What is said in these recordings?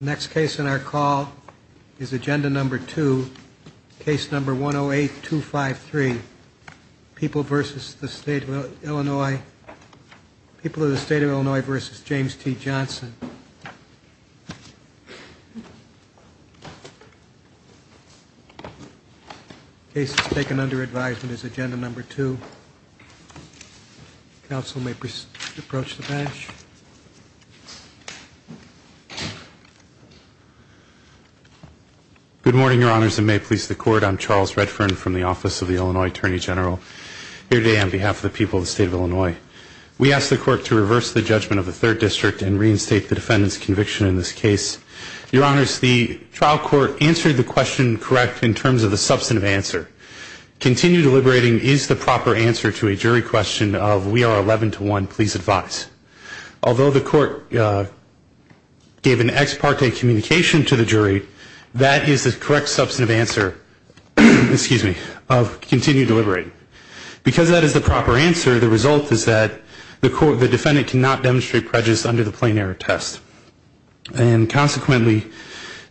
Next case in our call is agenda number two, case number 108253, People of the State of Illinois v. James T. Johnson. The case that's taken under advisement is agenda number two. Counsel may approach the bench. Charles Redfern Good morning, Your Honors, and may it please the Court, I'm Charles Redfern from the Office of the Illinois Attorney General here today on behalf of the people of the State of Illinois. We ask the Court to reverse the judgment of the Third District and reinstate the defendant's conviction in this case. Your Honors, the trial court answered the question correct in terms of the substantive answer. Continue deliberating is the proper answer to a jury question of we are 11 to 1, please advise. Although the court gave an ex parte communication to the jury, that is the correct substantive answer of continue deliberating. Because that is the proper answer, the result is that the defendant cannot demonstrate prejudice under the plain error test. And consequently,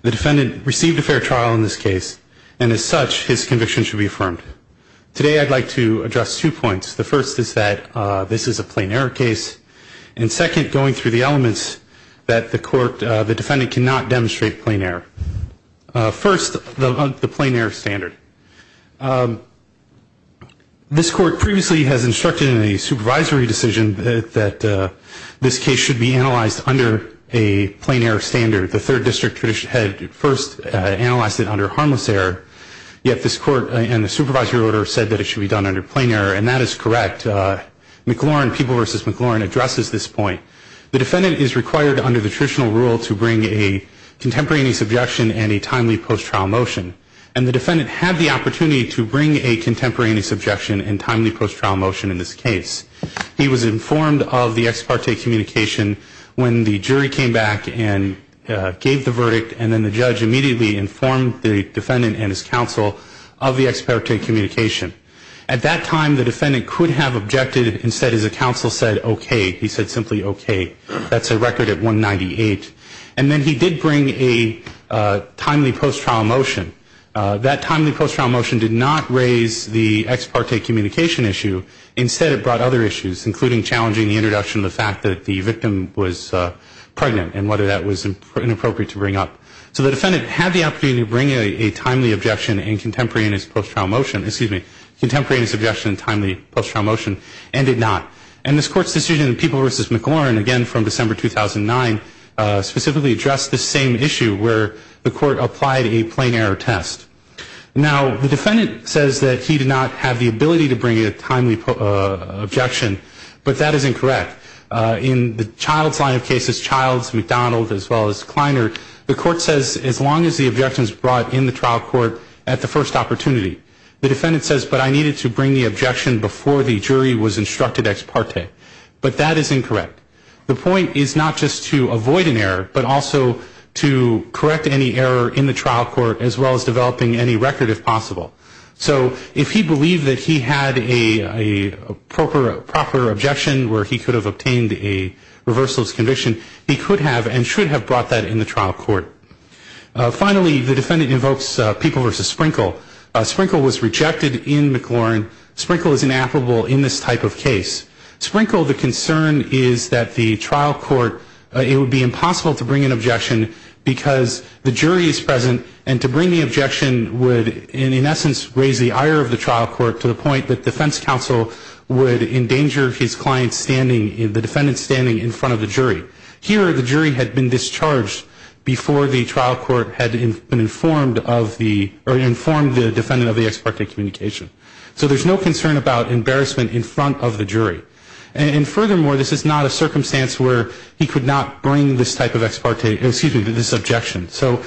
the defendant received a fair trial in this case. And as such, his conviction should be affirmed. Today I'd like to address two points. The first is that this is a plain error case. And second, going through the elements that the defendant cannot demonstrate plain error. First, the plain error standard. This Court previously has instructed in a supervisory decision that this case should be analyzed under a plain error standard. The Third District had first analyzed it under harmless error. Yet this Court and the supervisory order said that it should be done under plain error, and that is correct. McLaurin, People v. McLaurin, addresses this point. The defendant is required under the traditional rule to bring a contemporaneous objection and a timely post-trial motion. And the defendant had the opportunity to bring a contemporaneous objection and timely post-trial motion in this case. He was informed of the ex parte communication when the jury came back and gave the verdict, and then the judge immediately informed the defendant and his counsel of the ex parte communication. At that time, the defendant could have objected. Instead, his counsel said, okay. He said simply, okay. That's a record at 198. And then he did bring a timely post-trial motion. That timely post-trial motion did not raise the ex parte communication issue. Instead, it brought other issues, including challenging the introduction of the fact that the victim was pregnant and whether that was inappropriate to bring up. So the defendant had the opportunity to bring a timely objection and contemporaneous post-trial motion, excuse me, contemporaneous objection and timely post-trial motion, and did not. And this Court's decision in People v. McLaurin, again from December 2009, specifically addressed the same issue where the Court applied a plain error test. Now, the defendant says that he did not have the ability to bring a timely objection, but that is incorrect. In the Childs line of cases, Childs, McDonald, as well as Kleiner, the Court says as long as the objection is brought in the trial court at the first opportunity. The defendant says, but I needed to bring the objection before the jury was instructed ex parte. But that is incorrect. The point is not just to avoid an error, but also to correct any error in the trial court, as well as developing any record, if possible. So if he believed that he had a proper objection where he could have obtained a reversalist conviction, he could have and should have brought that in the trial court. Finally, the defendant invokes People v. Sprinkle. Sprinkle was rejected in McLaurin. Sprinkle is inappropriate in this type of case. Sprinkle, the concern is that the trial court, it would be impossible to bring an objection because the jury is present and to bring the objection would in essence raise the ire of the trial court to the point that defense counsel would endanger his client's standing, the defendant's standing in front of the jury. Here the jury had been discharged before the trial court had been informed of the or informed the defendant of the ex parte communication. So there's no concern about embarrassment in front of the jury. And furthermore, this is not a circumstance where he could not bring this type of ex parte, excuse me, this objection. So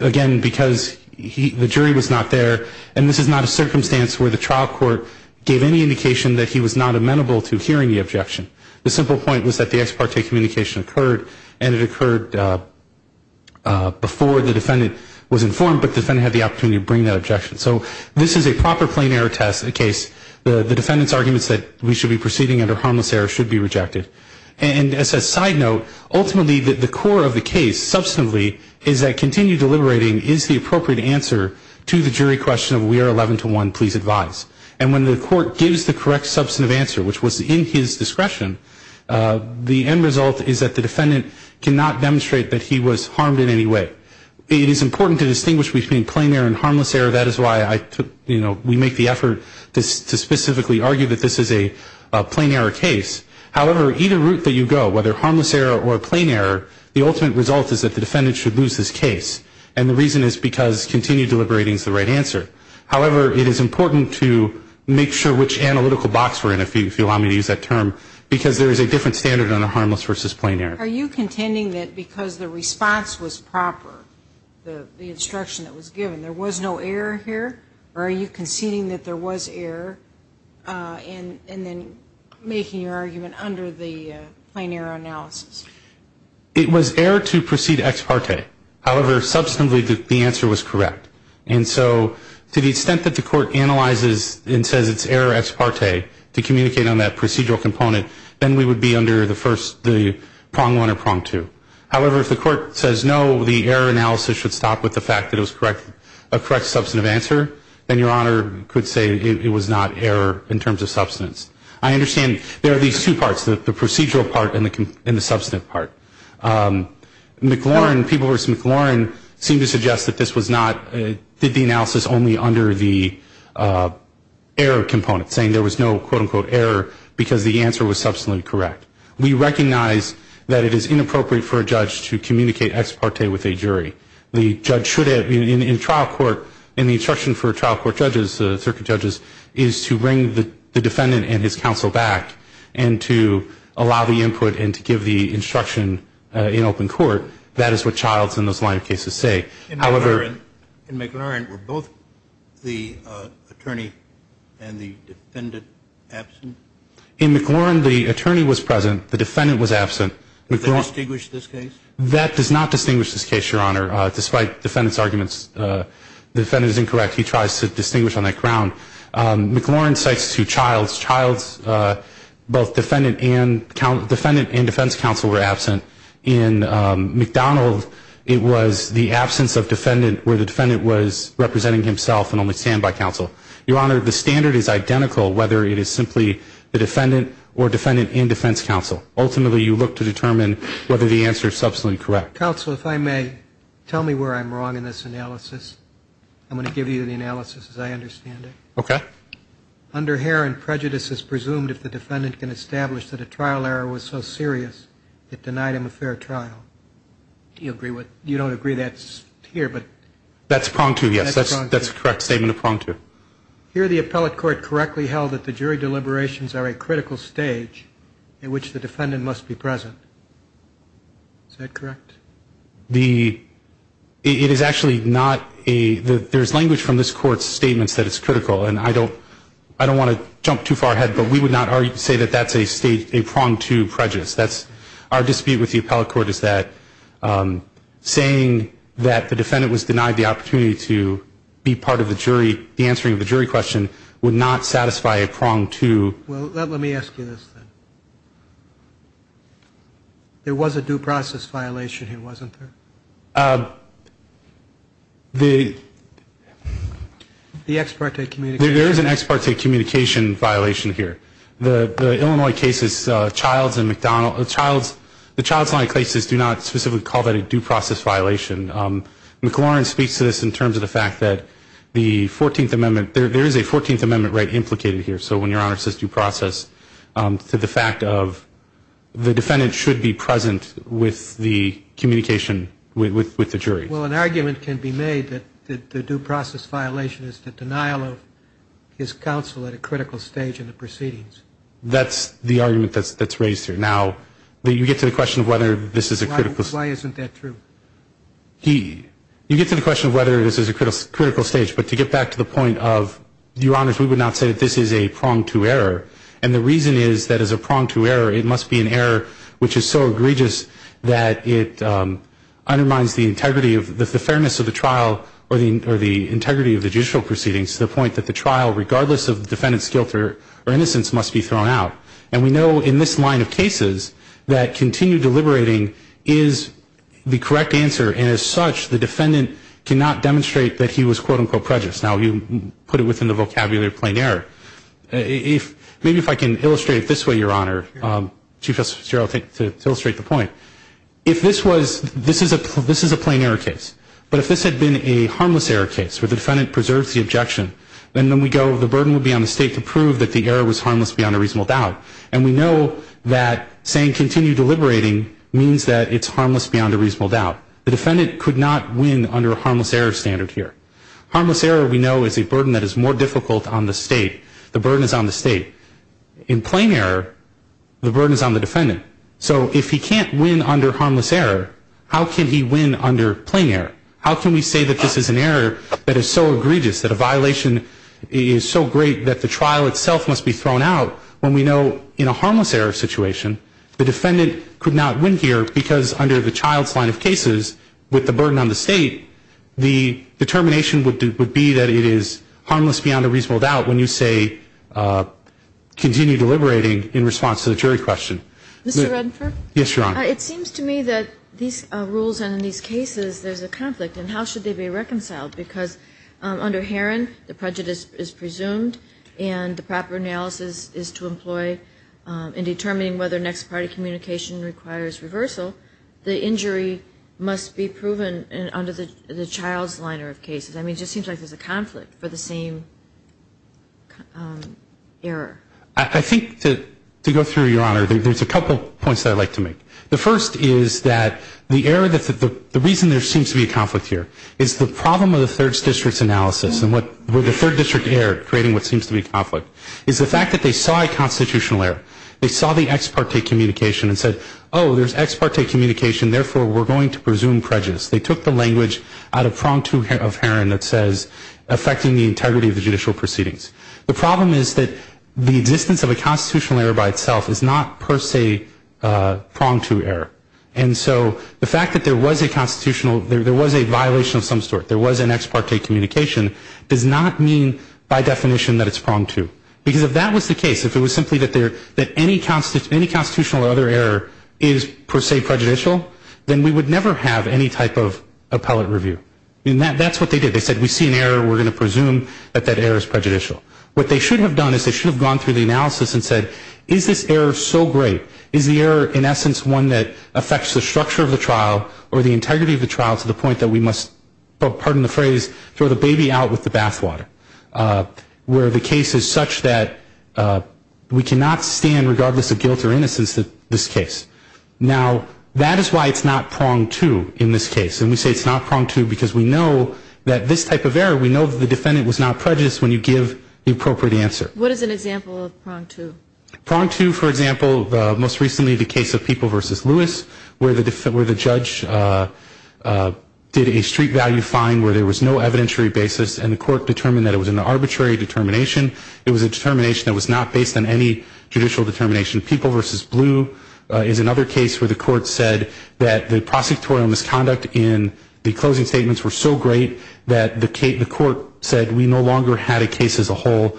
again, because the jury was not there, and this is not a circumstance where the trial court gave any indication that he was not amenable to hearing the objection. The simple point was that the ex parte communication occurred, and it occurred before the defendant was informed, but the defendant had the opportunity to bring that objection. So this is a proper plain error case. The defendant's arguments that we should be proceeding under harmless error should be rejected. And as a side note, ultimately the core of the case, substantively, is that continued deliberating is the appropriate answer to the jury question of we are 11 to 1, please advise. And when the court gives the correct substantive answer, which was in his discretion, the end result is that the defendant cannot demonstrate that he was harmed in any way. It is important to distinguish between plain error and harmless error. That is why I took, you know, we make the effort to specifically argue that this is a plain error case. However, either route that you go, whether harmless error or plain error, the ultimate result is that the defendant should lose this case. And the reason is because continued deliberating is the right answer. However, it is important to make sure which analytical box we're in, if you allow me to use that term, because there is a different standard on a harmless versus plain error. Are you contending that because the response was proper, the instruction that was given, there was no error here? Or are you conceding that there was error and then making your argument under the plain error analysis? It was error to proceed ex parte. However, substantively, the answer was correct. And so to the extent that the court analyzes and says it's error ex parte to communicate on that procedural component, then we would be under the first, the prong one or prong two. However, if the court says no, the error analysis should stop with the fact that it was a correct substantive answer, then Your Honor could say it was not error in terms of substance. I understand there are these two parts, the procedural part and the substantive part. McLaurin, people who have seen McLaurin seem to suggest that this was not, did the analysis only under the error component, saying there was no, quote, unquote, error because the answer was substantively correct. We recognize that it is inappropriate for a judge to communicate ex parte with a jury. The judge should, in trial court, in the instruction for trial court judges, circuit judges, is to bring the defendant and his counsel back and to allow the input and to give the instruction in open court. That is what Childs and those line of cases say. In McLaurin, were both the attorney and the defendant absent? In McLaurin, the attorney was present. The defendant was absent. Did they distinguish this case? That does not distinguish this case, Your Honor. Despite defendant's arguments, the defendant is incorrect. He tries to distinguish on that ground. McLaurin cites two Childs. Childs, both defendant and defense counsel were absent. In McDonald, it was the absence of defendant where the defendant was representing himself and only stand by counsel. Your Honor, the standard is identical whether it is simply the defendant or defendant and defense counsel. Ultimately, you look to determine whether the answer is substantively correct. Counsel, if I may, tell me where I'm wrong in this analysis. I'm going to give you the analysis as I understand it. Okay. Under Herron, prejudice is presumed if the defendant can establish that a trial error was so serious it denied him a fair trial. You don't agree that's here? That's prong two, yes. That's a correct statement of prong two. Here the appellate court correctly held that the jury deliberations are a critical stage in which the defendant must be present. Is that correct? It is actually not a – there's language from this court's statements that it's critical, and I don't want to jump too far ahead, but we would not say that that's a prong two prejudice. That's – our dispute with the appellate court is that saying that the defendant was denied the opportunity to be part of the jury, the answering of the jury question, would not satisfy a prong two. Well, let me ask you this then. There was a due process violation here, wasn't there? The ex parte communication. There is an ex parte communication violation here. The Illinois cases, Childs and McDonald – the Childs line cases do not specifically call that a due process violation. McLaurin speaks to this in terms of the fact that the 14th Amendment – there is a 14th Amendment right implicated here, so when your Honor says due process, to the fact of the defendant should be present with the communication with the jury. Well, an argument can be made that the due process violation is the denial of his counsel at a critical stage in the proceedings. That's the argument that's raised here. Now, you get to the question of whether this is a critical – Why isn't that true? You get to the question of whether this is a critical stage, but to get back to the point of, Your Honors, we would not say that this is a prong two error, and the reason is that as a prong two error, it must be an error which is so egregious that it undermines the integrity of – the fairness of the trial or the integrity of the judicial proceedings to the point that the trial, regardless of the defendant's guilt or innocence, must be thrown out. And we know in this line of cases that continued deliberating is the correct answer, and as such, the defendant cannot demonstrate that he was, quote, unquote, prejudiced. Now, you put it within the vocabulary of plain error. Maybe if I can illustrate it this way, Your Honor, Chief Justice Gerald, to illustrate the point. If this was – this is a plain error case, but if this had been a harmless error case where the defendant preserves the objection, then we go, the burden would be on the State to prove that the error was harmless beyond a reasonable doubt, and we know that saying continued deliberating means that it's harmless beyond a reasonable doubt. The defendant could not win under a harmless error standard here. Harmless error, we know, is a burden that is more difficult on the State. The burden is on the State. In plain error, the burden is on the defendant. So if he can't win under harmless error, how can he win under plain error? How can we say that this is an error that is so egregious, that a violation is so great that the trial itself must be thrown out when we know in a harmless error situation, the defendant could not win here because under the child's line of cases, with the burden on the State, the determination would be that it is harmless beyond a reasonable doubt when you say continue deliberating in response to the jury question. Ms. Redinfer? Yes, Your Honor. It seems to me that these rules and in these cases, there's a conflict. And how should they be reconciled? Because under Herron, the prejudice is presumed and the proper analysis is to employ in determining whether next party communication requires reversal, the injury must be proven under the child's line of cases. I mean, it just seems like there's a conflict for the same error. I think to go through, Your Honor, there's a couple points that I'd like to make. The first is that the reason there seems to be a conflict here is the problem of the third district's analysis and where the third district erred, creating what seems to be a conflict, is the fact that they saw a constitutional error. They saw the ex parte communication and said, oh, there's ex parte communication, therefore we're going to presume prejudice. They took the language out of prong two of Herron that says affecting the integrity of the judicial proceedings. The problem is that the existence of a constitutional error by itself is not per se prong two error. And so the fact that there was a constitutional, there was a violation of some sort, there was an ex parte communication, does not mean by definition that it's prong two. Because if that was the case, if it was simply that any constitutional or other error is per se prejudicial, then we would never have any type of appellate review. And that's what they did. They said we see an error, we're going to presume that that error is prejudicial. What they should have done is they should have gone through the analysis and said, is this error so great? Is the error in essence one that affects the structure of the trial or the integrity of the trial to the point that we must, pardon the phrase, throw the baby out with the bathwater? Where the case is such that we cannot stand, regardless of guilt or innocence, this case. Now, that is why it's not prong two in this case. And we say it's not prong two because we know that this type of error, we know that the defendant was not prejudiced when you give the appropriate answer. What is an example of prong two? Prong two, for example, most recently the case of People v. Lewis, where the judge did a street value fine where there was no evidentiary basis and the court determined that it was an arbitrary determination. It was a determination that was not based on any judicial determination. People v. Blue is another case where the court said that the prosecutorial misconduct in the closing statements were so great that the court said we no longer had a case as a whole.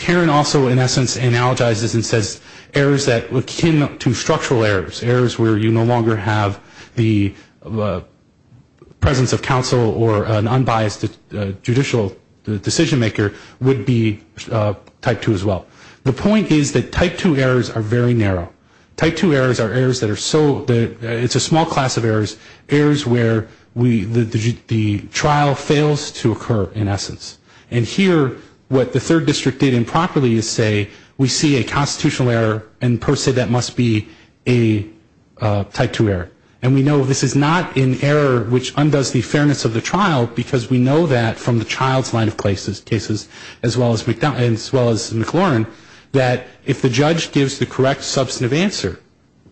Heron also, in essence, analogizes and says errors that were akin to structural errors, errors where you no longer have the presence of counsel or an unbiased judicial decision maker would be type two as well. The point is that type two errors are very narrow. Type two errors are errors that are so, it's a small class of errors, errors where the trial fails to occur, in essence. And here what the third district did improperly is say we see a constitutional error and per se that must be a type two error. And we know this is not an error which undoes the fairness of the trial because we know that from the child's line of cases as well as McLaurin, that if the judge gives the correct substantive answer,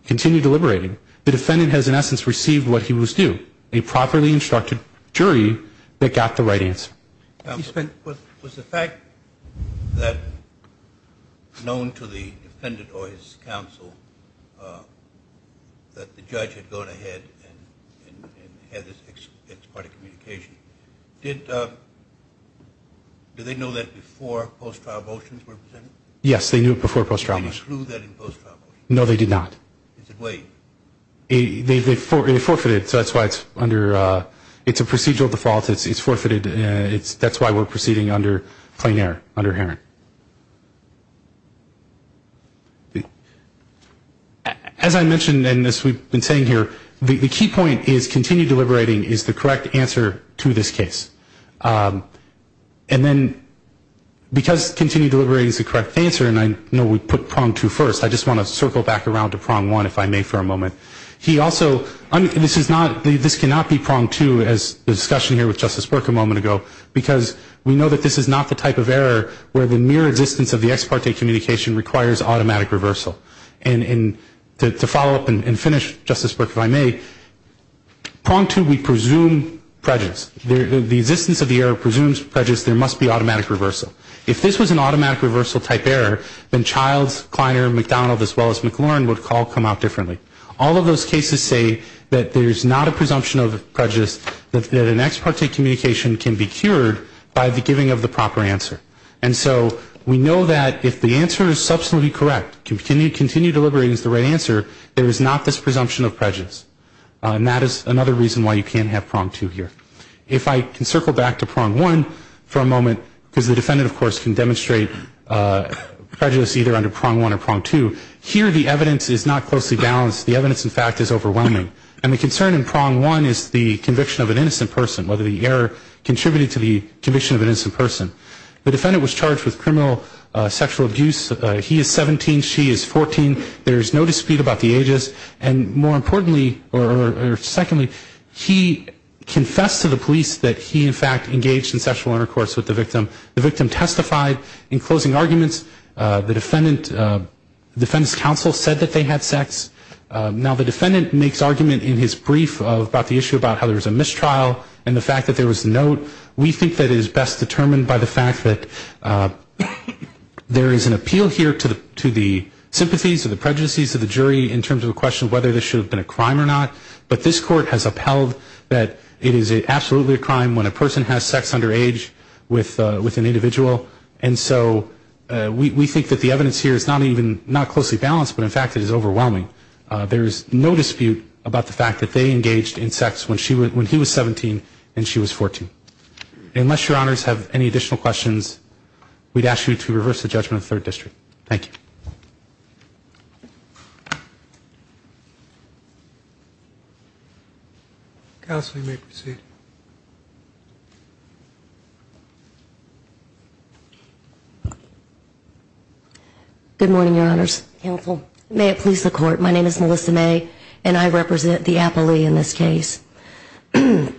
continue deliberating, the defendant has in essence received what he was due, a properly instructed jury that got the right answer. Was the fact that known to the defendant or his counsel that the judge had gone ahead and had this ex parte communication, did they know that before post-trial motions were presented? Yes, they knew it before post-trial motions. Did they include that in post-trial motions? No, they did not. Is it waived? They forfeited, so that's why it's under, it's a procedural default. It's forfeited. That's why we're proceeding under plenaire, under Heron. As I mentioned in this, we've been saying here, the key point is continue deliberating is the correct answer to this case. And then because continue deliberating is the correct answer, and I know we put prong two first, I just want to circle back around to prong one if I may for a moment. He also, this is not, this cannot be prong two as the discussion here with Justice Berk a moment ago, because we know that this is not the type of error where the mere existence of the ex parte communication requires automatic reversal. And to follow up and finish, Justice Berk, if I may, prong two, we presume prejudice. The existence of the error presumes prejudice. There must be automatic reversal. If this was an automatic reversal type error, then Childs, Kleiner, McDonald, as well as McLaurin would all come out differently. All of those cases say that there's not a presumption of prejudice, that an ex parte communication can be cured by the giving of the proper answer. And so we know that if the answer is subsequently correct, continue deliberating is the right answer, there is not this presumption of prejudice. And that is another reason why you can't have prong two here. If I can circle back to prong one for a moment, because the defendant, of course, can demonstrate prejudice either under prong one or prong two. Here the evidence is not closely balanced. The evidence, in fact, is overwhelming. And the concern in prong one is the conviction of an innocent person, whether the error contributed to the conviction of an innocent person. The defendant was charged with criminal sexual abuse. He is 17. She is 14. There is no dispute about the ages. And more importantly, or secondly, he confessed to the police that he, in fact, engaged in sexual intercourse with the victim. The victim testified in closing arguments. The defendant's counsel said that they had sex. Now the defendant makes argument in his brief about the issue about how there was a mistrial and the fact that there was a note. We think that it is best determined by the fact that there is an appeal here to the sympathies of the prejudices of the jury in terms of the question of whether this should have been a crime or not. But this Court has upheld that it is absolutely a crime when a person has sex under age with an individual. And so we think that the evidence here is not even closely balanced, but, in fact, it is overwhelming. There is no dispute about the fact that they engaged in sex when he was 17 and she was 14. Unless Your Honors have any additional questions, we'd ask you to reverse the judgment of the Third District. Thank you. Counsel, you may proceed. Good morning, Your Honors. May it please the Court, my name is Melissa May and I represent the appellee in this case. A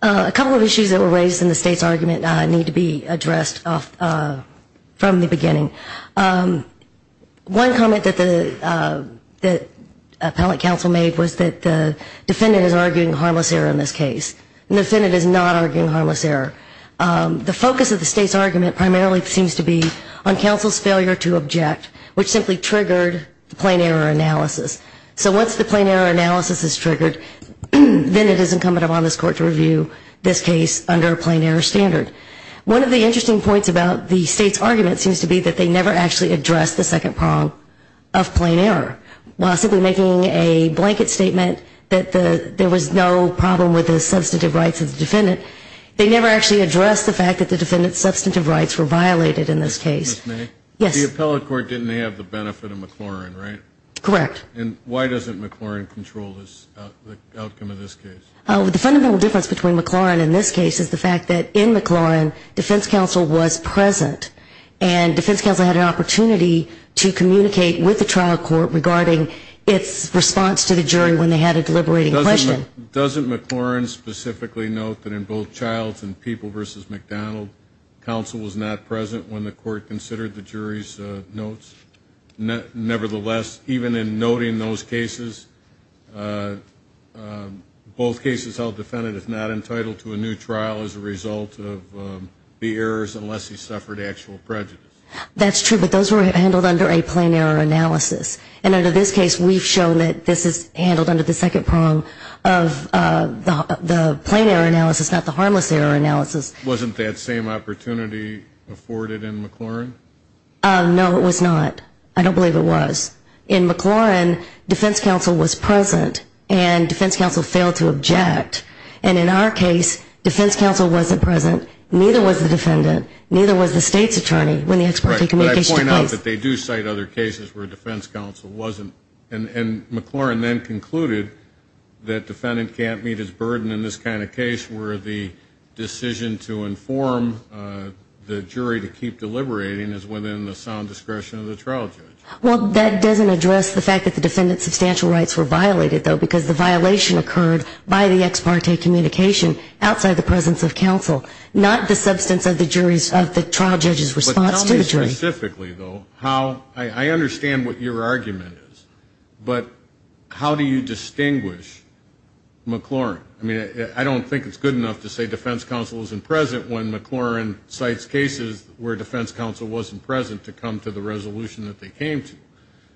couple of issues that were raised in the State's argument need to be addressed from the beginning. One comment that the appellate counsel made was that the defendant is arguing harmless error in this case. The defendant is not arguing harmless error. The focus of the State's argument primarily seems to be on counsel's failure to object, which simply triggered the plain error analysis. So once the plain error analysis is triggered, then it is incumbent upon this Court to review this case under a plain error standard. One of the interesting points about the State's argument seems to be that they never actually addressed the second prong of plain error. While simply making a blanket statement that there was no problem with the substantive rights of the defendant, they never actually addressed the fact that the defendant's substantive rights were violated in this case. Ms. May? Yes. The appellate court didn't have the benefit of McLaurin, right? Correct. And why doesn't McLaurin control the outcome of this case? The fundamental difference between McLaurin and this case is the fact that in McLaurin, defense counsel was present and defense counsel had an opportunity to communicate with the trial court regarding its response to the jury when they had a deliberating question. Doesn't McLaurin specifically note that in both Childs and People v. McDonald, counsel was not present when the court considered the jury's notes? Nevertheless, even in noting those cases, both cases held the defendant is not entitled to a new trial as a result of the errors unless he suffered actual prejudice. That's true, but those were handled under a plain error analysis. And under this case, we've shown that this is handled under the second prong of the plain error analysis, not the harmless error analysis. Wasn't that same opportunity afforded in McLaurin? No, it was not. I don't believe it was. In McLaurin, defense counsel was present, and defense counsel failed to object. And in our case, defense counsel wasn't present. Neither was the defendant. Neither was the state's attorney when the ex parte communication took place. But I point out that they do cite other cases where defense counsel wasn't. And McLaurin then concluded that defendant can't meet his burden in this kind of case where the decision to inform the jury to keep deliberating is within the sound discretion of the trial judge. Well, that doesn't address the fact that the defendant's substantial rights were violated, though, because the violation occurred by the ex parte communication outside the presence of counsel, not the substance of the trial judge's response to the jury. But tell me specifically, though, how ‑‑ I understand what your argument is, but how do you distinguish McLaurin? I mean, I don't think it's good enough to say defense counsel wasn't present when McLaurin cites cases where defense counsel wasn't present to come to the resolution that they came to.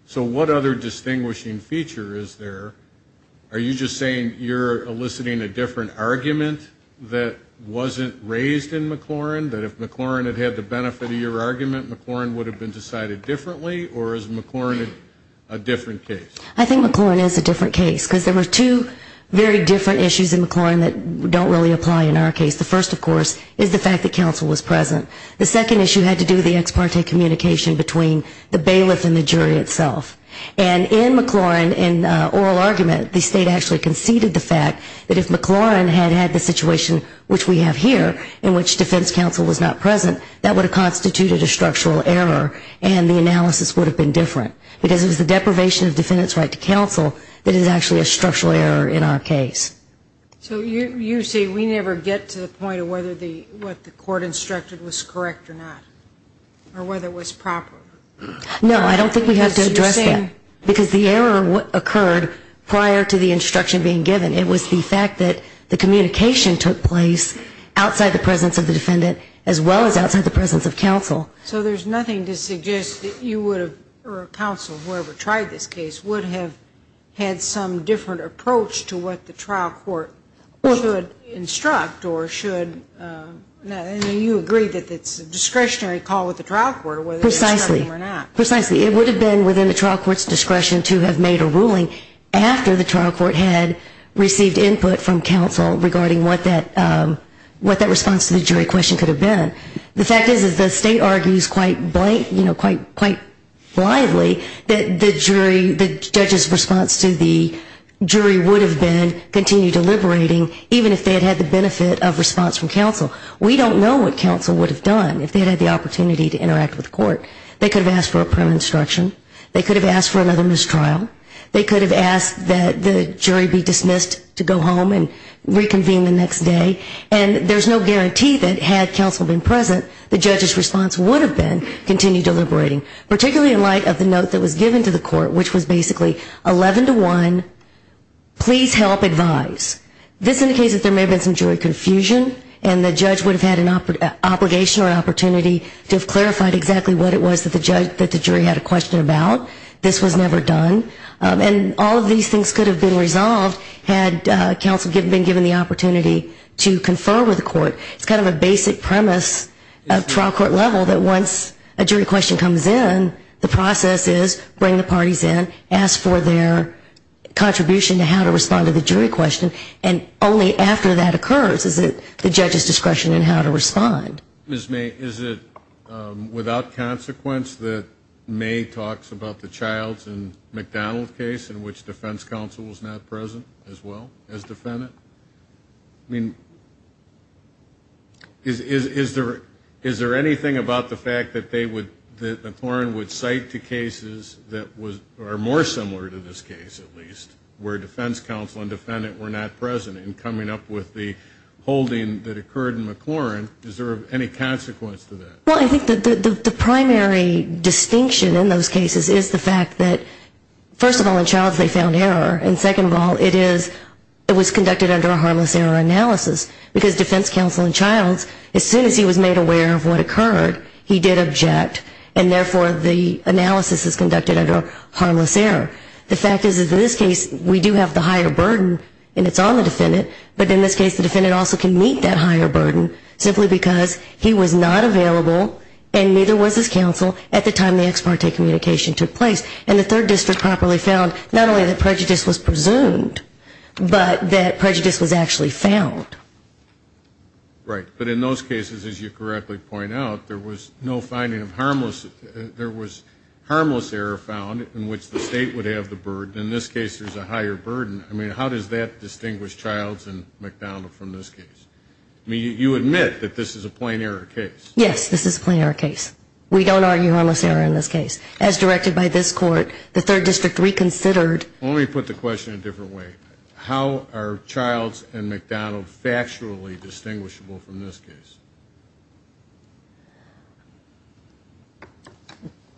So what other distinguishing feature is there? Are you just saying you're eliciting a different argument that wasn't raised in McLaurin, that if McLaurin had had the benefit of your argument, McLaurin would have been decided differently, or is McLaurin a different case? I think McLaurin is a different case, because there were two very different issues in McLaurin that don't really apply in our case. The first, of course, is the fact that counsel was present. The second issue had to do with the ex parte communication between the bailiff and the jury itself. And in McLaurin, in oral argument, the state actually conceded the fact that if McLaurin had had the situation which we have here, in which defense counsel was not present, that would have constituted a structural error and the analysis would have been different. Because it was the deprivation of defendant's right to counsel that is actually a structural error in our case. So you say we never get to the point of whether what the court instructed was correct or not, or whether it was proper. No, I don't think we have to address that. Because the error occurred prior to the instruction being given. It was the fact that the communication took place outside the presence of the defendant as well as outside the presence of counsel. So there's nothing to suggest that you would have, or counsel, whoever tried this case, would have had some different approach to what the trial court should instruct or should, and you agree that it's a discretionary call with the trial court whether to instruct them or not. Precisely. It would have been within the trial court's discretion to have made a ruling after the trial court had received input from counsel regarding what that response to the jury question could have been. The fact is that the state argues quite blindly that the jury, the judge's response to the jury would have been continue deliberating, even if they had had the benefit of response from counsel. We don't know what counsel would have done if they had had the opportunity to interact with the court. They could have asked for a prim instruction. They could have asked for another mistrial. They could have asked that the jury be dismissed to go home and reconvene the next day. And there's no guarantee that had counsel been present, the judge's response would have been continue deliberating, particularly in light of the note that was given to the court, which was basically 11 to 1, please help advise. This indicates that there may have been some jury confusion, and the judge would have had an obligation or opportunity to have clarified exactly what it was that the jury had a question about. This was never done. And all of these things could have been resolved had counsel been given the opportunity to confer with the court. It's kind of a basic premise of trial court level that once a jury question comes in, the process is bring the parties in, ask for their contribution to how to respond to the jury question, and only after that occurs is it the judge's discretion in how to respond. Ms. May, is it without consequence that May talks about the Childs and McDonald case in which defense counsel was not present as well as defendant? I mean, is there anything about the fact that they would, that McLaurin would cite the cases that are more similar to this case, at least, where defense counsel and defendant were not present in coming up with the holding that occurred in McLaurin? Is there any consequence to that? Well, I think the primary distinction in those cases is the fact that, first of all, in Childs they found error, and second of all, it is, it was conducted under a harmless error analysis, because defense counsel in Childs, as soon as he was made aware of what occurred, he did object, and therefore the analysis is conducted under a harmless error. The fact is, in this case, we do have the higher burden, and it's on the defendant, but in this case the defendant also can meet that higher burden simply because he was not available and neither was his counsel at the time the ex parte communication took place. And the third district properly found not only that prejudice was presumed, but that prejudice was actually found. Right. But in those cases, as you correctly point out, there was no finding of harmless, there was harmless error found in which the state would have the burden. In this case, there's a higher burden. I mean, how does that distinguish Childs and McDonald from this case? I mean, you admit that this is a plain error case. Yes, this is a plain error case. We don't argue harmless error in this case. As directed by this court, the third district reconsidered. Well, let me put the question a different way. How are Childs and McDonald factually distinguishable from this case?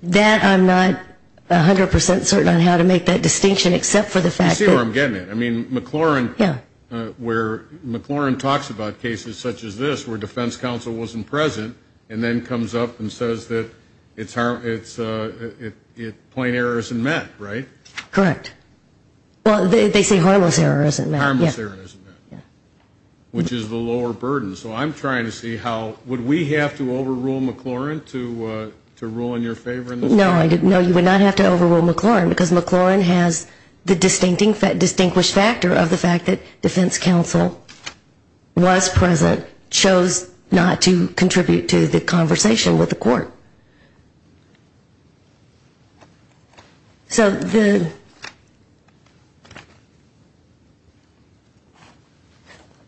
That I'm not 100 percent certain on how to make that distinction except for the fact that I see where I'm getting at. I mean, McLaurin where McLaurin talks about cases such as this where defense counsel wasn't present and then comes up and says that it's plain error isn't met, right? Correct. Well, they say harmless error isn't met. Harmless error isn't met, which is the lower burden. So I'm trying to see how would we have to overrule McLaurin to rule in your favor in this case? No, you would not have to overrule McLaurin because McLaurin has the distinguished factor of the fact that defense counsel was present, chose not to contribute to the conversation with the court. So to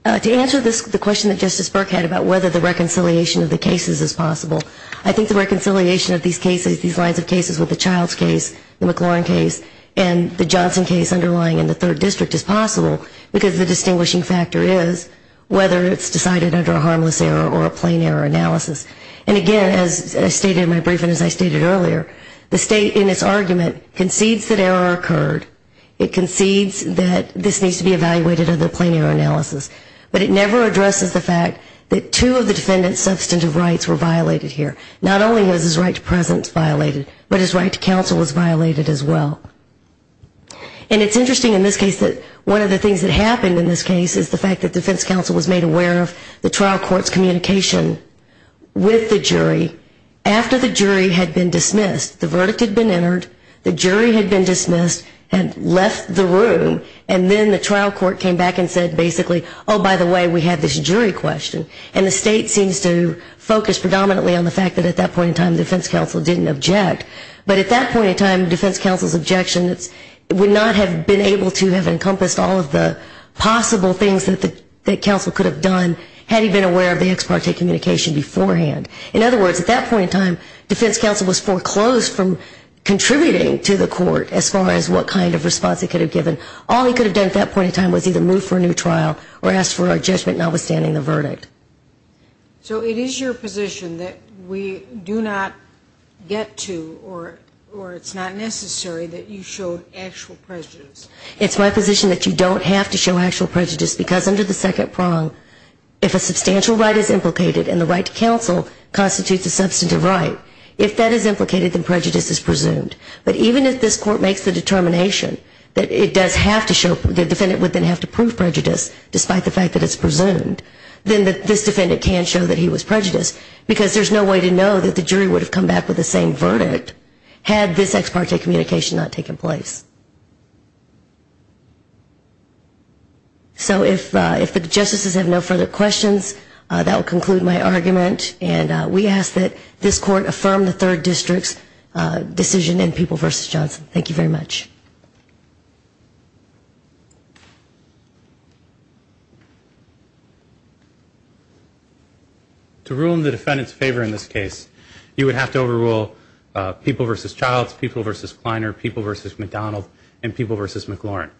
answer the question that Justice Burke had about whether the reconciliation of the cases is possible, I think the reconciliation of these cases, these lines of cases with the Childs case, the McLaurin case and the Johnson case underlying in the third district is possible because the distinguishing factor is whether it's decided under a harmless error or a plain error analysis. And again, as I stated in my brief and as I stated earlier, the state in its argument concedes that error occurred. It concedes that this needs to be evaluated under the plain error analysis. But it never addresses the fact that two of the defendant's substantive rights were violated here. Not only was his right to presence violated, but his right to counsel was violated as well. And it's interesting in this case that one of the things that happened in this case is the fact that defense counsel was made aware of the trial court's communication with the jury after the jury had been dismissed. The verdict had been entered. The jury had been dismissed and left the room. And then the trial court came back and said basically, oh, by the way, we have this jury question. And the state seems to focus predominantly on the fact that at that point in time, defense counsel didn't object. But at that point in time, defense counsel's objection would not have been able to have encompassed all of the possible things that counsel could have done had he been aware of the ex parte communication beforehand. In other words, at that point in time, defense counsel was foreclosed from contributing to the court as far as what kind of All he could have done at that point in time was either move for a new trial or ask for a judgment notwithstanding the verdict. So it is your position that we do not get to or it's not necessary that you show actual prejudice. It's my position that you don't have to show actual prejudice because under the second prong, if a substantial right is implicated and the right to counsel constitutes a substantive right, if that is implicated, then prejudice is presumed. But even if this court makes the determination that it does have to show, the defendant would then have to prove prejudice despite the fact that it's presumed, then this defendant can show that he was prejudiced because there's no way to know that the jury would have come back with the same verdict had this ex parte communication not taken place. So if the justices have no further questions, that will conclude my argument. And we ask that this court affirm the third district's decision in People v. Johnson. Thank you very much. To rule in the defendant's favor in this case, you would have to overrule People v. Childs, People v. Kleiner, People v. McDonald, and People v. McLaurin.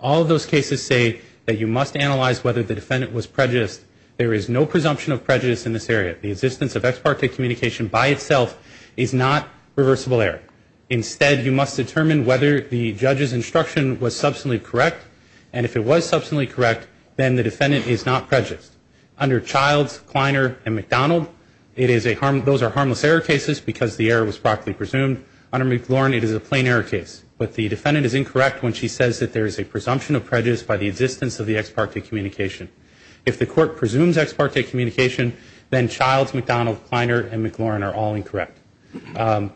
All of those cases say that you must analyze whether the defendant was prejudiced. There is no presumption of prejudice in this area. The existence of ex parte communication by itself is not reversible error. Instead, you must determine whether the judge's instruction was substantially correct, and if it was substantially correct, then the defendant is not prejudiced. Under Childs, Kleiner, and McDonald, those are harmless error cases because the error was broadly presumed. Under McLaurin, it is a plain error case. But the defendant is incorrect when she says that there is a presumption of prejudice by the existence of the ex parte communication. If the court presumes ex parte communication, then Childs, McDonald, Kleiner, and McLaurin are all incorrect.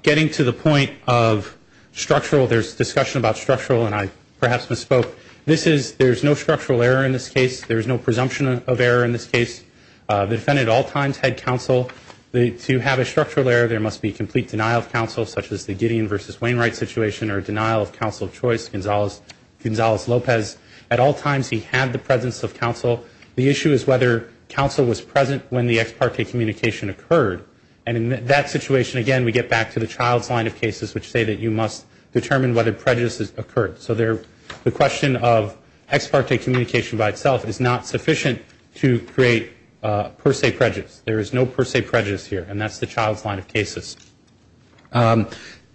Getting to the point of structural, there's discussion about structural, and I perhaps misspoke. This is, there's no structural error in this case. There's no presumption of error in this case. The defendant at all times had counsel. To have a structural error, there must be complete denial of counsel, such as the Gideon v. Wainwright situation or denial of counsel choice. Gonzalez Lopez, at all times, he had the presence of counsel. The issue is whether counsel was present when the ex parte communication occurred. And in that situation, again, we get back to the Childs line of cases, which say that you must determine whether prejudice has occurred. So the question of ex parte communication by itself is not sufficient to create per se prejudice. There is no per se prejudice here, and that's the Childs line of cases.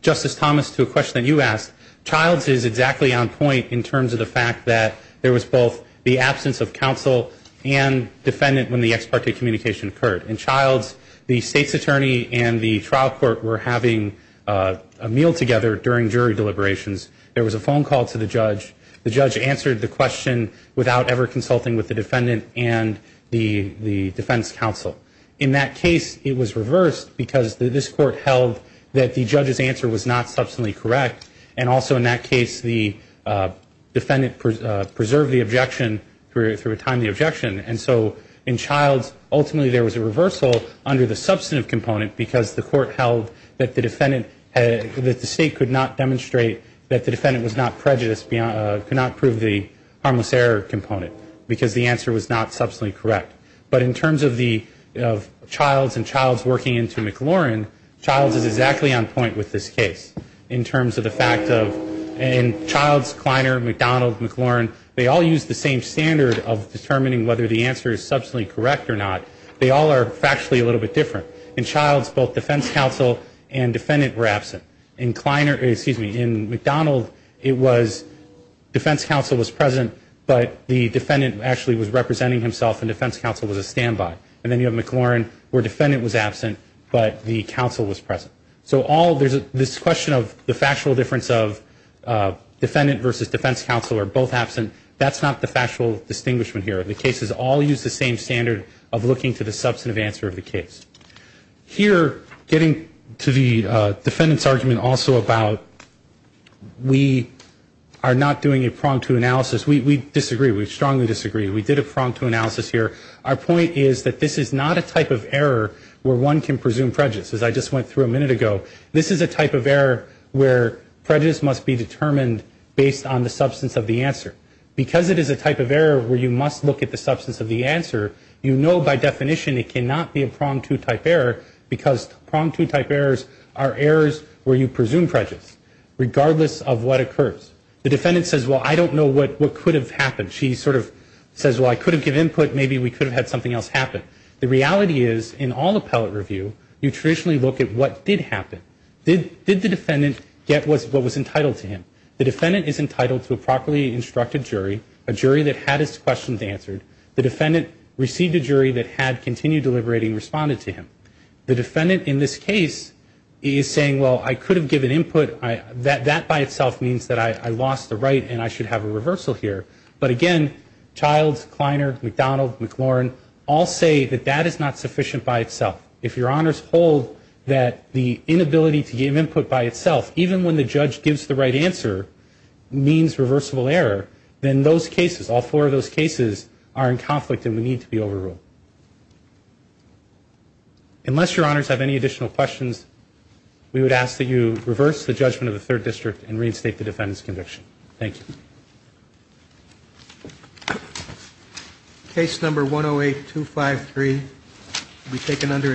Justice Thomas, to a question that you asked, Childs is exactly on point in terms of the fact that there was both the absence of counsel and defendant when the ex parte communication occurred. In Childs, the state's attorney and the trial court were having a meal together during jury deliberations. There was a phone call to the judge. The judge answered the question without ever consulting with the defendant and the defense counsel. In that case, it was reversed, because this court held that the judge's answer was not substantively correct. And also in that case, the defendant preserved the objection through a timely objection. And so in Childs, ultimately there was a reversal under the substantive component, because the court held that the state could not demonstrate that the defendant was not prejudiced, could not prove the harmless error component, because the answer was not substantively correct. In the case of Childs and Childs working into McLaurin, Childs is exactly on point with this case in terms of the fact of in Childs, Kleiner, McDonald, McLaurin, they all use the same standard of determining whether the answer is substantially correct or not. They all are factually a little bit different. In Childs, both defense counsel and defendant were absent. In McDonald, it was defense counsel was present, but the defendant actually was representing himself, and defense counsel was a standby. And then you have McLaurin, where defendant was absent, but the counsel was present. So there's this question of the factual difference of defendant versus defense counsel are both absent. That's not the factual distinguishment here. The cases all use the same standard of looking to the substantive answer of the case. Here, getting to the defendant's argument also about we are not doing a prong-to analysis, we disagree. We strongly disagree. We did a prong-to analysis here. Our point is that this is not a type of error where one can presume prejudice, as I just went through a minute ago. This is a type of error where prejudice must be determined based on the substance of the answer. Because it is a type of error where you must look at the substance of the answer, you know by definition it cannot be a prong-to type error, because prong-to type errors are errors where you presume prejudice, regardless of what occurs. The defendant says, well, I don't know what could have happened. She sort of says, well, I could have given input, maybe we could have had something else happen. The reality is, in all appellate review, you traditionally look at what did happen. Did the defendant get what was entitled to him? The defendant is entitled to a properly instructed jury, a jury that had his questions answered. The defendant received a jury that had continued deliberating and responded to him. The defendant in this case is saying, well, I could have given input. That by itself means that I lost the right and I should have a reversal here. But again, Childs, Kleiner, McDonald, McLaurin, all say that that is not sufficient by itself. If your honors hold that the inability to give input by itself, even when the judge gives the right answer, means reversible error, then those cases, all four of those cases, are in conflict and would need to be overruled. Unless your honors have any additional questions, we would ask that you reverse the judgment of the third district and reinstate the defendant's conviction. Thank you. Case number 108-253 will be taken under a